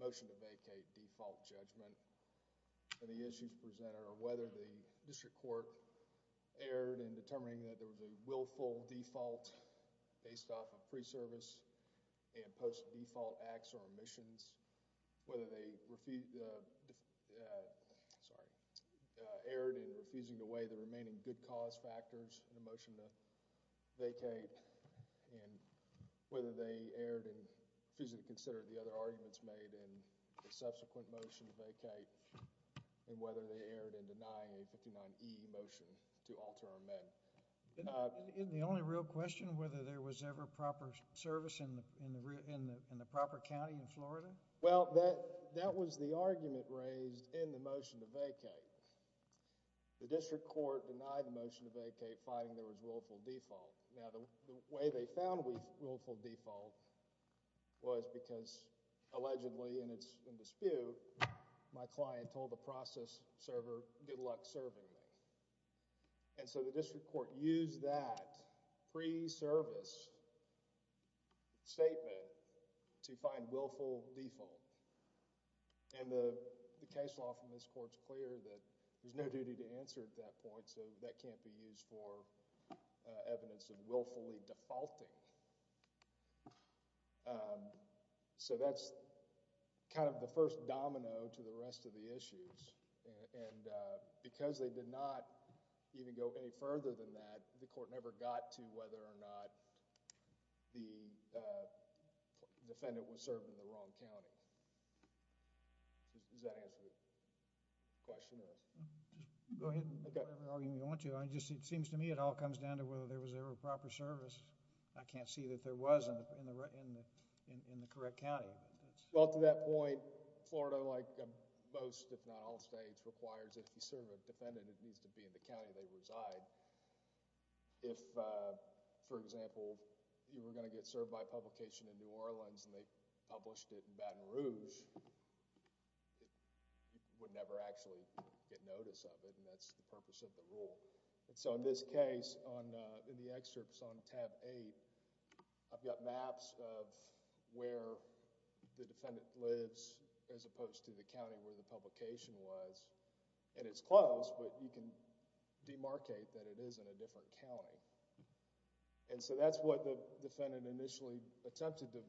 Motion to vacate default judgment. Any issues presented or whether the district court erred in determining that there was a willful default based off of pre-service and post-default acts or omissions, whether they erred in refusing to weigh the remaining good cause factors in the motion to vacate, and whether they erred in refusing to consider the other arguments made in the subsequent motion to vacate, and whether they erred in denying a 59E motion to alter or amend. Isn't the only real question whether there was ever proper service in the proper county in Florida? Well, that was the argument raised in the motion to vacate. The district court denied the motion to vacate finding there was willful default. Now, the way they found willful default was because allegedly in dispute, my client told the process server, good luck serving me. And so the district court used that pre-service statement to find willful default. And the case law from this court is clear that there's no duty to answer at that point, so that can't be used for evidence of willfully defaulting. So that's kind of the first domino to the case. The second domino, whether or not the defendant was served in the wrong county. Does that answer the question or... Go ahead. It seems to me it all comes down to whether there was ever proper service. I can't see that there was in the correct county. Well, to that point, Florida, like most if not all states, requires if you serve a defendant it needs to be in the county they reside. If, for example, you were going to get served by a publication in New Orleans and they published it in Baton Rouge, you would never actually get notice of it and that's the purpose of the rule. So in this case, in the excerpts on tab eight, I've got maps of where the defendant lives as opposed to the county where the publication was. And it's close, but you can demarcate that it is in a different county. And so that's what the defendant initially attempted to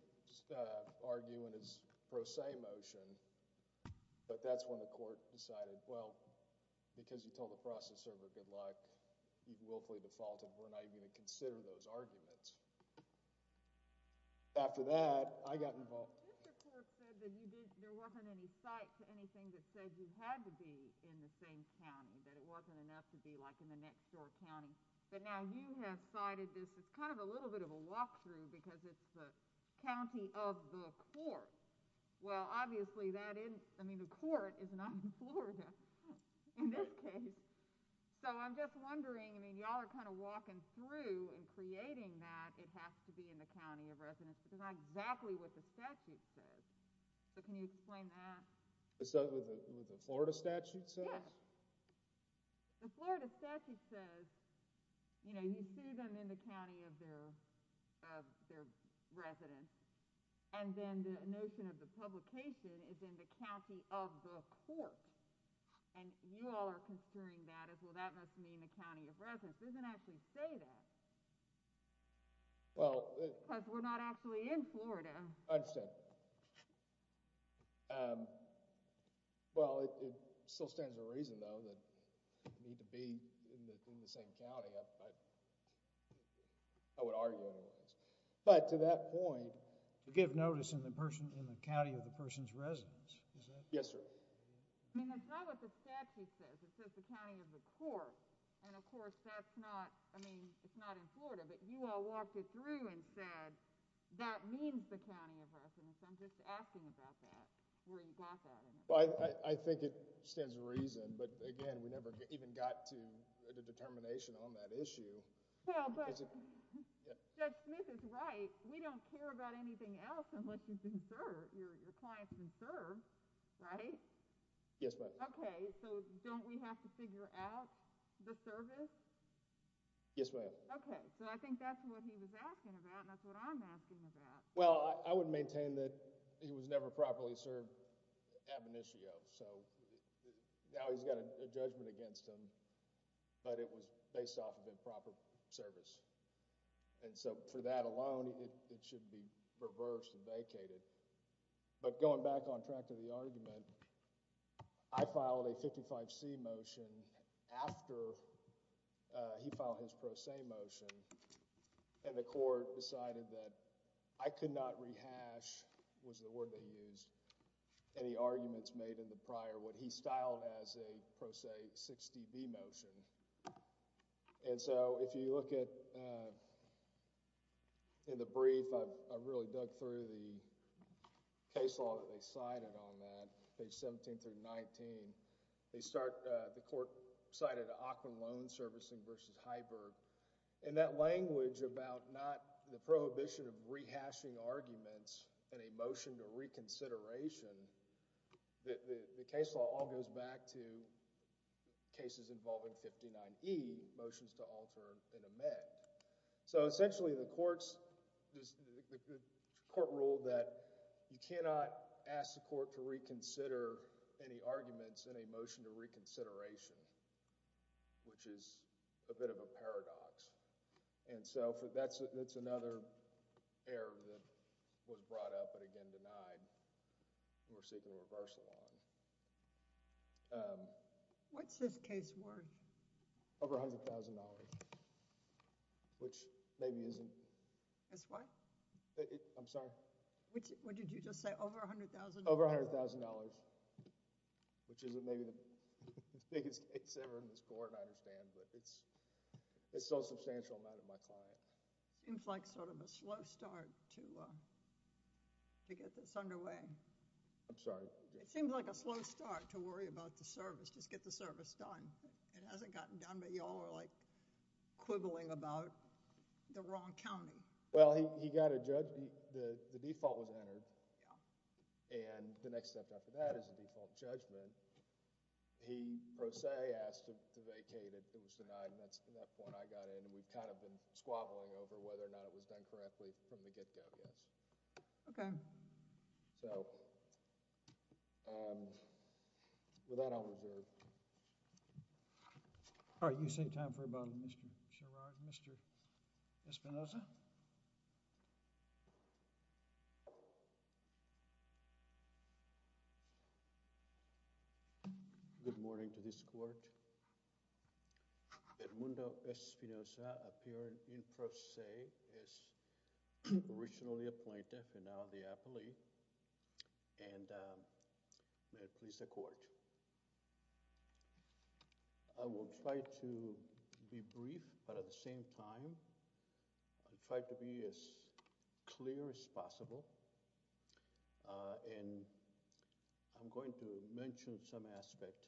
argue in his pro se motion, but that's when the court decided, well, because you told the process server good luck, you willfully defaulted. We're not even going to consider those arguments. After that, I got involved. The court said that there wasn't any site to anything that said you had to be in the same county, that it wasn't enough to be like in the next door county. But now you have cited this as kind of a little bit of a walkthrough because it's the county of the court. Well, obviously that isn't, I mean, the court is not in Florida in this case. So I'm just wondering, I mean, y'all are kind of walking through and creating that it has to be in the county of residence. It's not exactly what the statute says. So can you explain that? Is that what the Florida statute says? Yes. The Florida statute says, you know, you sue them in the county of their residence. And then the notion of the publication is in the county of the court. And you all are answering that as, well, that must mean the county of residence. It doesn't actually say that. Because we're not actually in Florida. I understand. Well, it still stands to reason, though, that you need to be in the same county. I would argue otherwise. But to that point. To give notice in the county of the person's residence. Yes, sir. I mean, that's not what the statute says. It says the county of the court. And, of course, that's not, I mean, it's not in Florida. But you all walked it through and said that means the county of residence. I'm just asking about that, where you got that. Well, I think it stands to reason. But, again, we never even got to the determination on that issue. Well, but Judge Smith is right. We don't care about anything else unless you've been served, or your client's been served, right? Yes, ma'am. Okay. So don't we have to figure out the service? Yes, ma'am. Okay. So I think that's what he was asking about, and that's what I'm asking about. Well, I would maintain that he was never properly served ab initio. So now he's got a judgment against him. But it was based off of improper service. And so for that alone, it should be reversed and vacated. But going back on track to the argument, I filed a 55C motion after he filed his Pro Se motion. And the court decided that I could not rehash, was the word they used, any arguments made in the prior, what he styled as a Pro Se 60B motion. And so if you look at, in the brief, I really dug through the case law that they cited on that, page 17 through 19. They start, the court cited Ockman Loan Servicing v. Heiberg. And that language about not, the prohibition of rehashing arguments in a motion to reconsideration, the case law all goes back to cases involving 59E, motions to alter and amend. So essentially the courts, the court ruled that you cannot ask the court to reconsider any arguments in a motion to reconsideration, which is a bit of a paradox. And so that's another error that was brought up but again denied. We're seeking a reversal on it. What's this case worth? Over $100,000, which maybe isn't... It's what? I'm sorry? What did you just say? Over $100,000? Over $100,000, which isn't maybe the biggest case ever in this court, I understand. But it's still a substantial amount of my client. Seems like sort of a slow start to get this underway. I'm sorry? It seems like a slow start to worry about the service, just get the service done. It hasn't gotten done, but y'all are like quibbling about the wrong county. Well, he got a, the default was entered. Yeah. And the next step after that is the default judgment. He pro se asked to vacate it. It was denied and that's when I got in. We've kind of been squabbling over whether or not it was done correctly from the get-go. Yes. Okay. So... With that, I'll reserve. All right. You seem to have time for a bottle, Mr. Sherrard. Mr. Espinosa? Good morning to this court. Edmundo Espinosa appeared in pro se as originally a plaintiff and now the appellee. And may it please the court. I will try to be brief, but at the same time, I'll try to be as clear as possible. And I'm going to mention some aspect.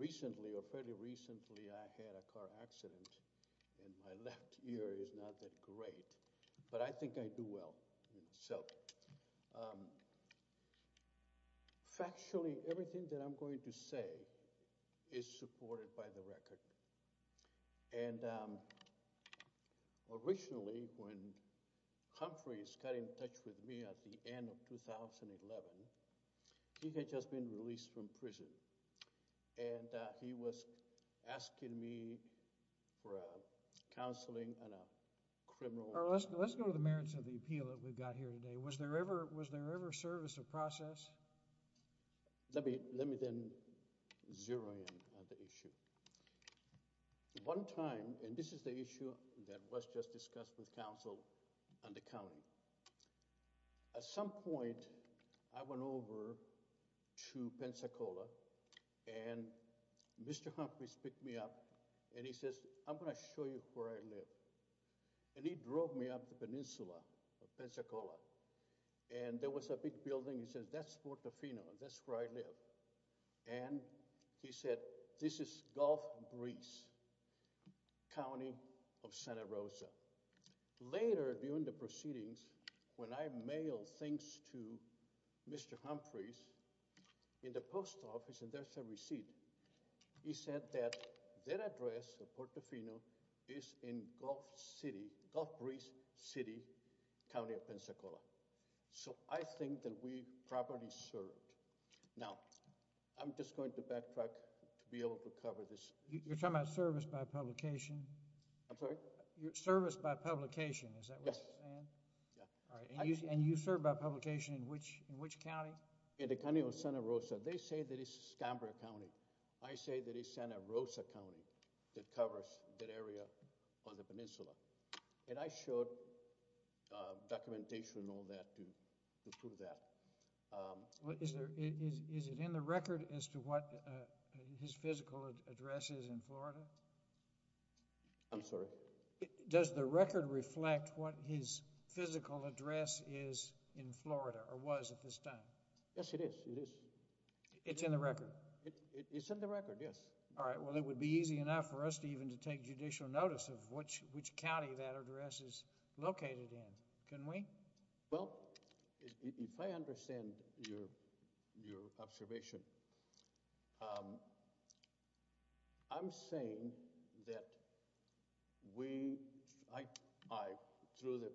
Recently, or fairly recently, I had a car accident and my left ear is not that great, but I think I do well. So, factually, everything that I'm going to say is supported by the record. And originally, when Humphreys got in touch with me at the end of 2011, he had just been released from prison. And he was asking me for counseling on a criminal... Let's go to the merits of the appeal that we've got here today. Was there ever service or process? Let me then zero in on the issue. One time, and this is the issue that was just discussed with counsel on the county. At some point, I went over to Pensacola and Mr. Humphreys picked me up. And he says, I'm going to show you where I live. And he drove me up the peninsula of Pensacola. And there was a big building. He says, that's Portofino. That's where I live. And he said, this is Gulf Breeze, County of Santa Rosa. Later, during the proceedings, when I mailed things to Mr. Humphreys in the post office, and there's a receipt. He said that that address of Portofino is in Gulf Breeze City, County of Pensacola. So, I think that we properly served. Now, I'm just going to backtrack to be able to cover this. You're talking about service by publication? I'm sorry? Service by publication, is that what you're saying? Yes. And you served by publication in which county? In the county of Santa Rosa. They say that it's Escambria County. I say that it's Santa Rosa County that covers that area of the peninsula. And I showed documentation and all that to prove that. Is it in the record as to what his physical address is in Florida? I'm sorry? Does the record reflect what his physical address is in Florida, or was at this time? Yes, it is. It is. It's in the record? It's in the record, yes. All right. Well, it would be easy enough for us to even to take judicial notice of which county that address is located in, couldn't we? Well, if I understand your observation, I'm saying that we – I, through the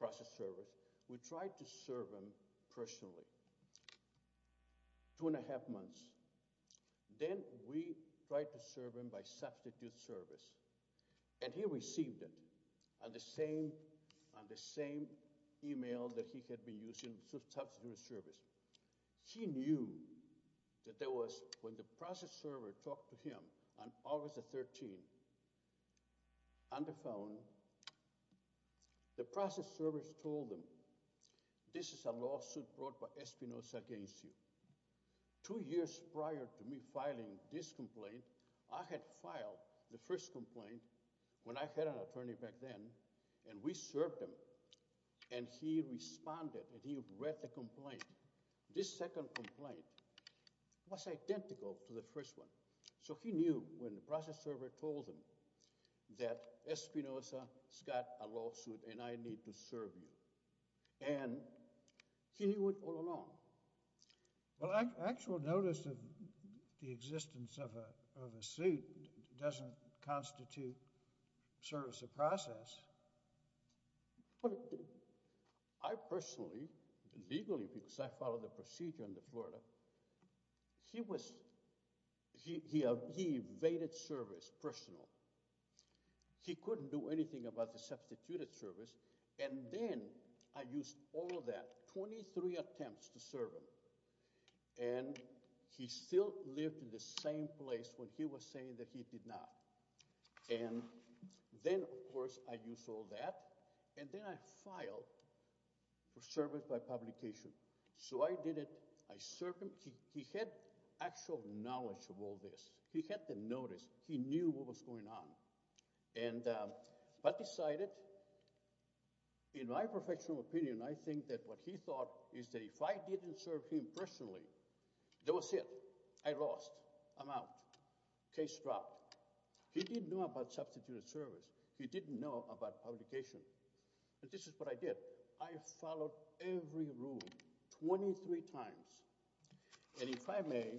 process service, we tried to serve him personally two and a half months. Then we tried to serve him by substitute service. And he received it on the same email that he had been using, substitute service. He knew that there was – when the process server talked to him on August the 13th on the phone, the process service told him, This is a lawsuit brought by Espinoza against you. Two years prior to me filing this complaint, I had filed the first complaint when I had an attorney back then, and we served him. And he responded, and he read the complaint. This second complaint was identical to the first one. So he knew when the process server told him that Espinoza has got a lawsuit and I need to serve you. And he went all along. Well, actual notice of the existence of a suit doesn't constitute service of process. Well, I personally, legally, because I followed the procedure under Florida, he was – he evaded service personal. He couldn't do anything about the substituted service, and then I used all of that, 23 attempts to serve him. And he still lived in the same place when he was saying that he did not. And then, of course, I used all that, and then I filed for service by publication. So I did it. I served him. He had actual knowledge of all this. He had the notice. He knew what was going on. And I decided, in my professional opinion, I think that what he thought is that if I didn't serve him personally, that was it. I lost. I'm out. Case dropped. He didn't know about substituted service. He didn't know about publication. But this is what I did. I followed every rule 23 times. And if I may,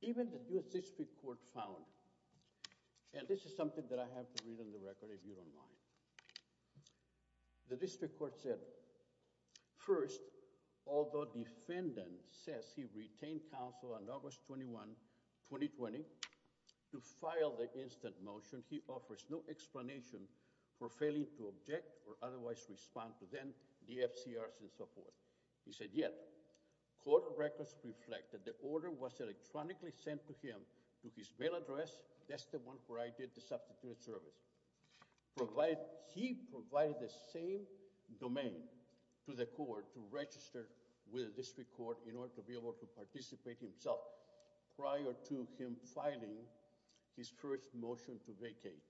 even the district court found – and this is something that I have to read on the record if you don't mind. The district court said, first, although defendant says he retained counsel on August 21, 2020, to file the instant motion, he offers no explanation for failing to object or otherwise respond to them, the FCRs, and so forth. He said, yet court records reflect that the order was electronically sent to him to his mail address. That's the one where I did the substituted service. He provided the same domain to the court to register with the district court in order to be able to participate himself prior to him filing his first motion to vacate.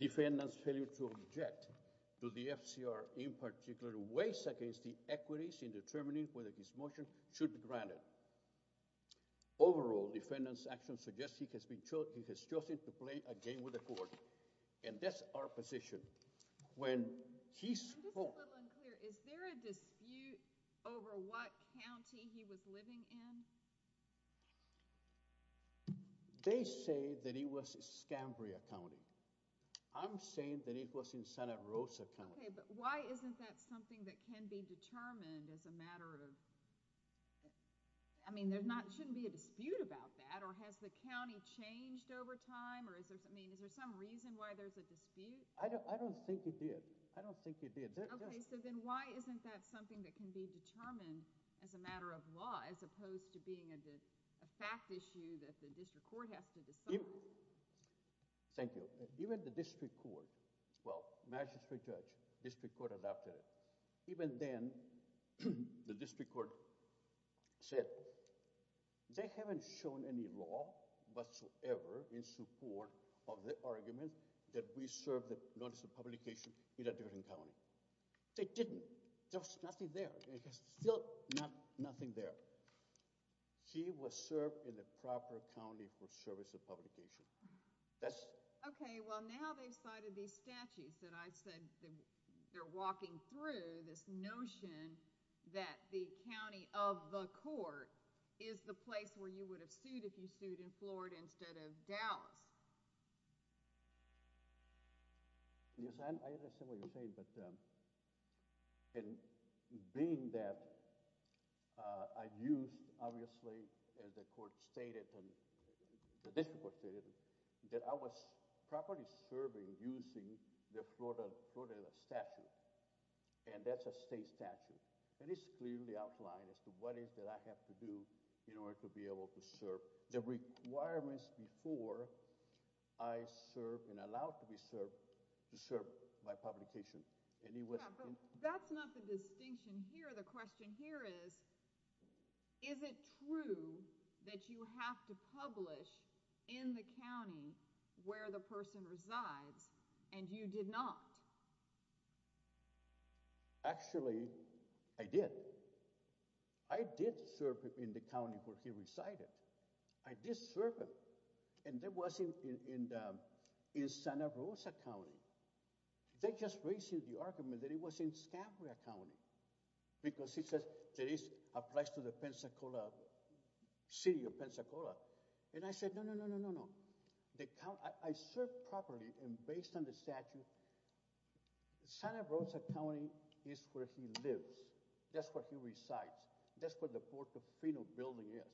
Defendant's failure to object to the FCR in particular weighs against the equities in determining whether his motion should be granted. Overall, defendant's action suggests he has chosen to play a game with the court. And that's our position. I'm just a little unclear. Is there a dispute over what county he was living in? They say that it was Escambria County. I'm saying that it was in Santa Rosa County. Okay, but why isn't that something that can be determined as a matter of – I mean, there shouldn't be a dispute about that. Or has the county changed over time? Or is there some reason why there's a dispute? I don't think it did. I don't think it did. Okay, so then why isn't that something that can be determined as a matter of law as opposed to being a fact issue that the district court has to decide? Thank you. Even the district court – well, magistrate judge, district court adopted it. Even then, the district court said they haven't shown any law whatsoever in support of the argument that we served the notice of publication in a different county. They didn't. There was nothing there. There's still nothing there. He was served in the proper county for service of publication. Okay, well, now they've cited these statutes that I said they're walking through this notion that the county of the court is the place where you would have sued if you sued in Florida instead of Dallas. Yes, I understand what you're saying, but being that I used, obviously, as the court stated and the district court stated, that I was properly serving using the Florida statute, and that's a state statute. And it's clearly outlined as to what it is that I have to do in order to be able to serve the requirements before I serve and allow to be served my publication. Yeah, but that's not the distinction here. The question here is, is it true that you have to publish in the county where the person resides and you did not? Actually, I did. I did serve in the county where he resided. I did serve, and that wasn't in Santa Rosa County. They just raised the argument that it was in Escambria County because it says that it applies to the city of Pensacola. And I said, no, no, no, no, no. I served properly and based on the statute. Santa Rosa County is where he lives. That's where he resides. That's where the Portofino building is.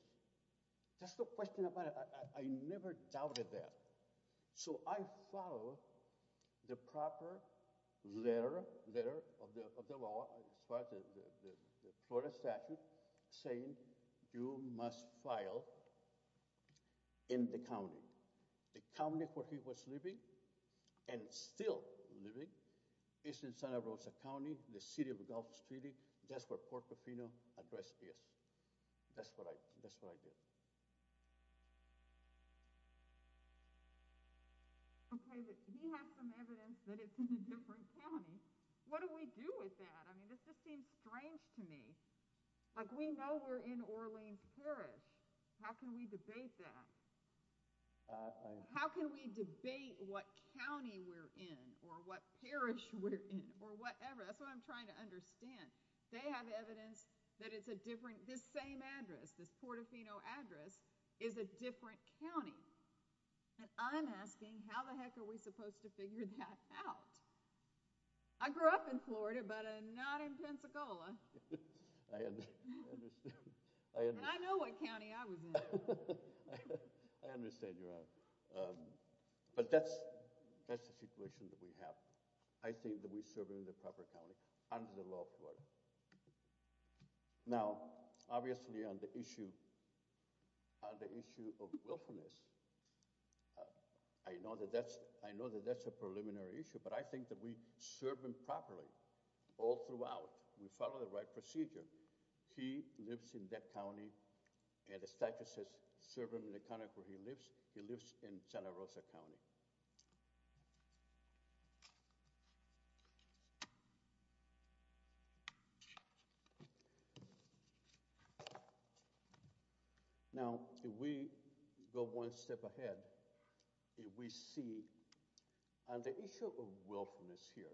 That's the question about it. I never doubted that. So I follow the proper letter of the law as far as the Florida statute saying you must file in the county. The county where he was living and still living is in Santa Rosa County, the city of Gulf Street. That's where Portofino address is. That's what I did. Okay, but he has some evidence that it's in a different county. What do we do with that? I mean, this just seems strange to me. Like, we know we're in Orleans Parish. How can we debate that? How can we debate what county we're in or what parish we're in or whatever? That's what I'm trying to understand. They have evidence that it's a different, this same address, this Portofino address is a different county. And I'm asking, how the heck are we supposed to figure that out? I grew up in Florida, but not in Pensacola. And I know what county I was in. I understand you're out. But that's the situation that we have. I think that we serve in the proper county under the law of Florida. Now, obviously on the issue of willfulness, I know that that's a preliminary issue, but I think that we serve him properly all throughout. We follow the right procedure. He lives in that county and the statute says serve him in the county where he lives. He lives in Santa Rosa County. Now, if we go one step ahead, we see on the issue of willfulness here,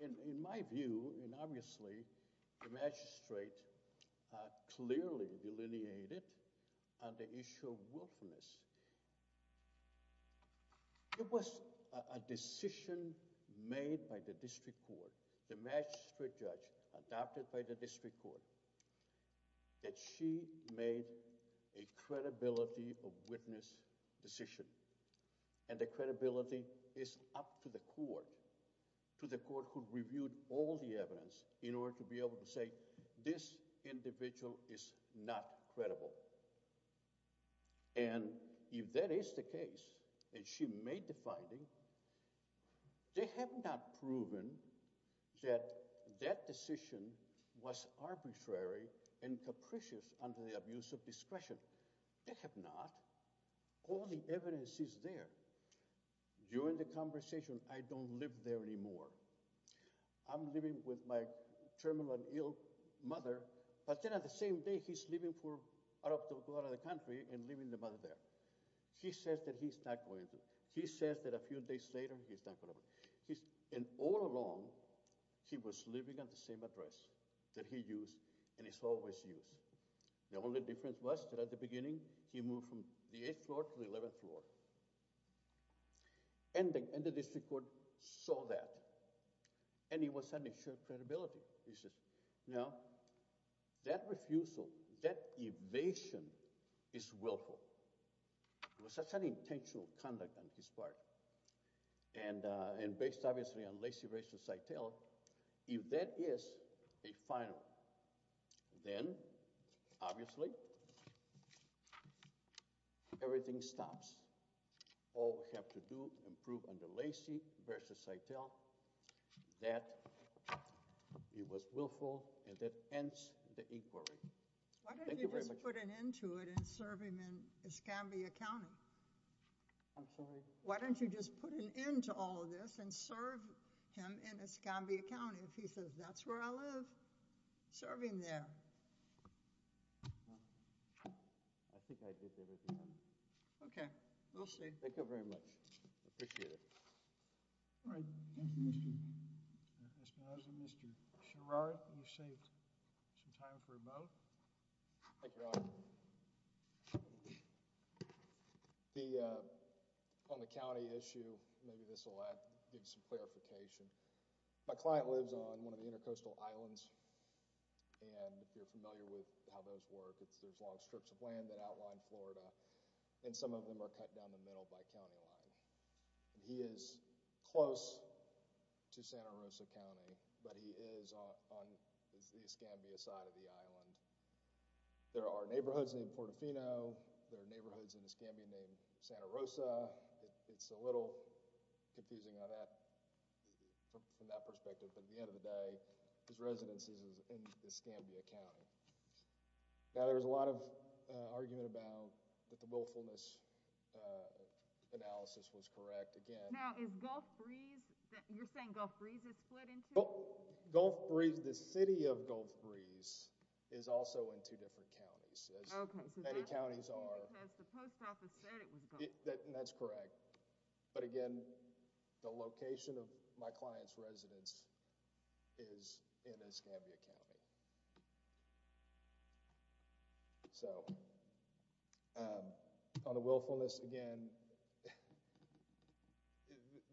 in my view, and obviously the magistrate clearly delineated on the issue of willfulness. It was a decision made by the district court, the magistrate judge adopted by the district court, that she made a credibility of witness decision. And the credibility is up to the court, to the court who reviewed all the evidence in order to be able to say this individual is not credible. And if that is the case, and she made the finding, they have not proven that that decision was arbitrary and capricious under the abuse of discretion. They have not. All the evidence is there. During the conversation, I don't live there anymore. I'm living with my terminally ill mother, but then at the same day, he's leaving for out of the country and leaving the mother there. He says that he's not going to. He says that a few days later, he's not going to. And all along, he was living at the same address that he used and has always used. The only difference was that at the beginning, he moved from the 8th floor to the 11th floor. And the district court saw that, and it was an issue of credibility. He says, now, that refusal, that evasion is willful. It was such an intentional conduct on his part. And based, obviously, on Lacey v. Seitel, if that is a final, then, obviously, everything stops. All we have to do is prove under Lacey v. Seitel that it was willful and that ends the inquiry. Why don't you just put an end to it and serve him in Escambia County? I'm sorry? Why don't you just put an end to all of this and serve him in Escambia County if he says that's where I live? Serve him there. I think I did that. Okay. We'll see. Thank you very much. I appreciate it. All right. Thank you, Mr. Esposito. Mr. Sherrard, you've saved some time for a vote. Thank you, Your Honor. On the county issue, maybe this will give some clarification. My client lives on one of the intercoastal islands, and if you're familiar with how those work, there's long strips of land that outline Florida, and some of them are cut down the middle by county line. He is close to Santa Rosa County, but he is on the Escambia side of the island. There are neighborhoods in Portofino. There are neighborhoods in Escambia named Santa Rosa. It's a little confusing on that, from that perspective, but at the end of the day, his residence is in Escambia County. Now, there was a lot of argument about that the willfulness analysis was correct. Now, is Gulf Breeze, you're saying Gulf Breeze is split in two? Gulf Breeze, the city of Gulf Breeze, is also in two different counties, as many counties are. Because the post office said it was Gulf Breeze. That's correct. But again, the location of my client's residence is in Escambia County. So, on the willfulness, again,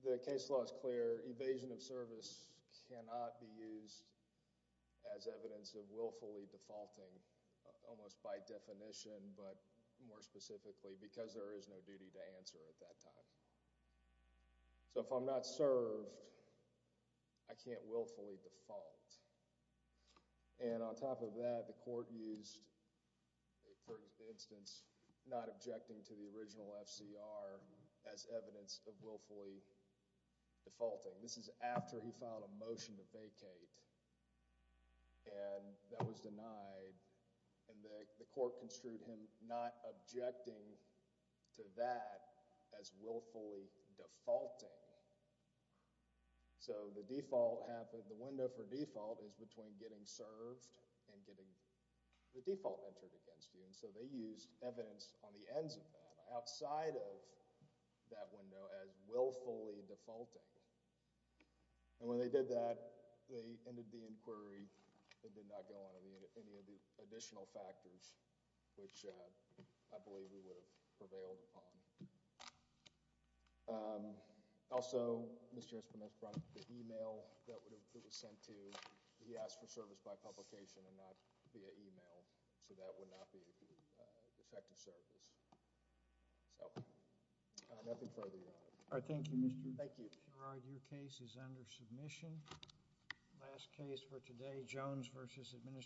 the case law is clear. Evasion of service cannot be used as evidence of willfully defaulting, almost by definition, but more specifically, because there is no duty to answer at that time. So, if I'm not served, I can't willfully default. And on top of that, the court used, for instance, not objecting to the original FCR as evidence of willfully defaulting. This is after he filed a motion to vacate, and that was denied, and the court construed him not objecting to that as willfully defaulting. So, the window for default is between getting served and getting the default entered against you, and so they used evidence on the ends of that, outside of that window, as willfully defaulting. And when they did that, they ended the inquiry and did not go on to any of the additional factors, which I believe we would have prevailed upon. Also, Mr. Esperman has brought up the email that was sent to. He asked for service by publication and not via email, so that would not be effective service. So, nothing further, Your Honor. Thank you, Mr. Gerard. Thank you. Your case is under submission. Last case for today, Jones v. Administrator.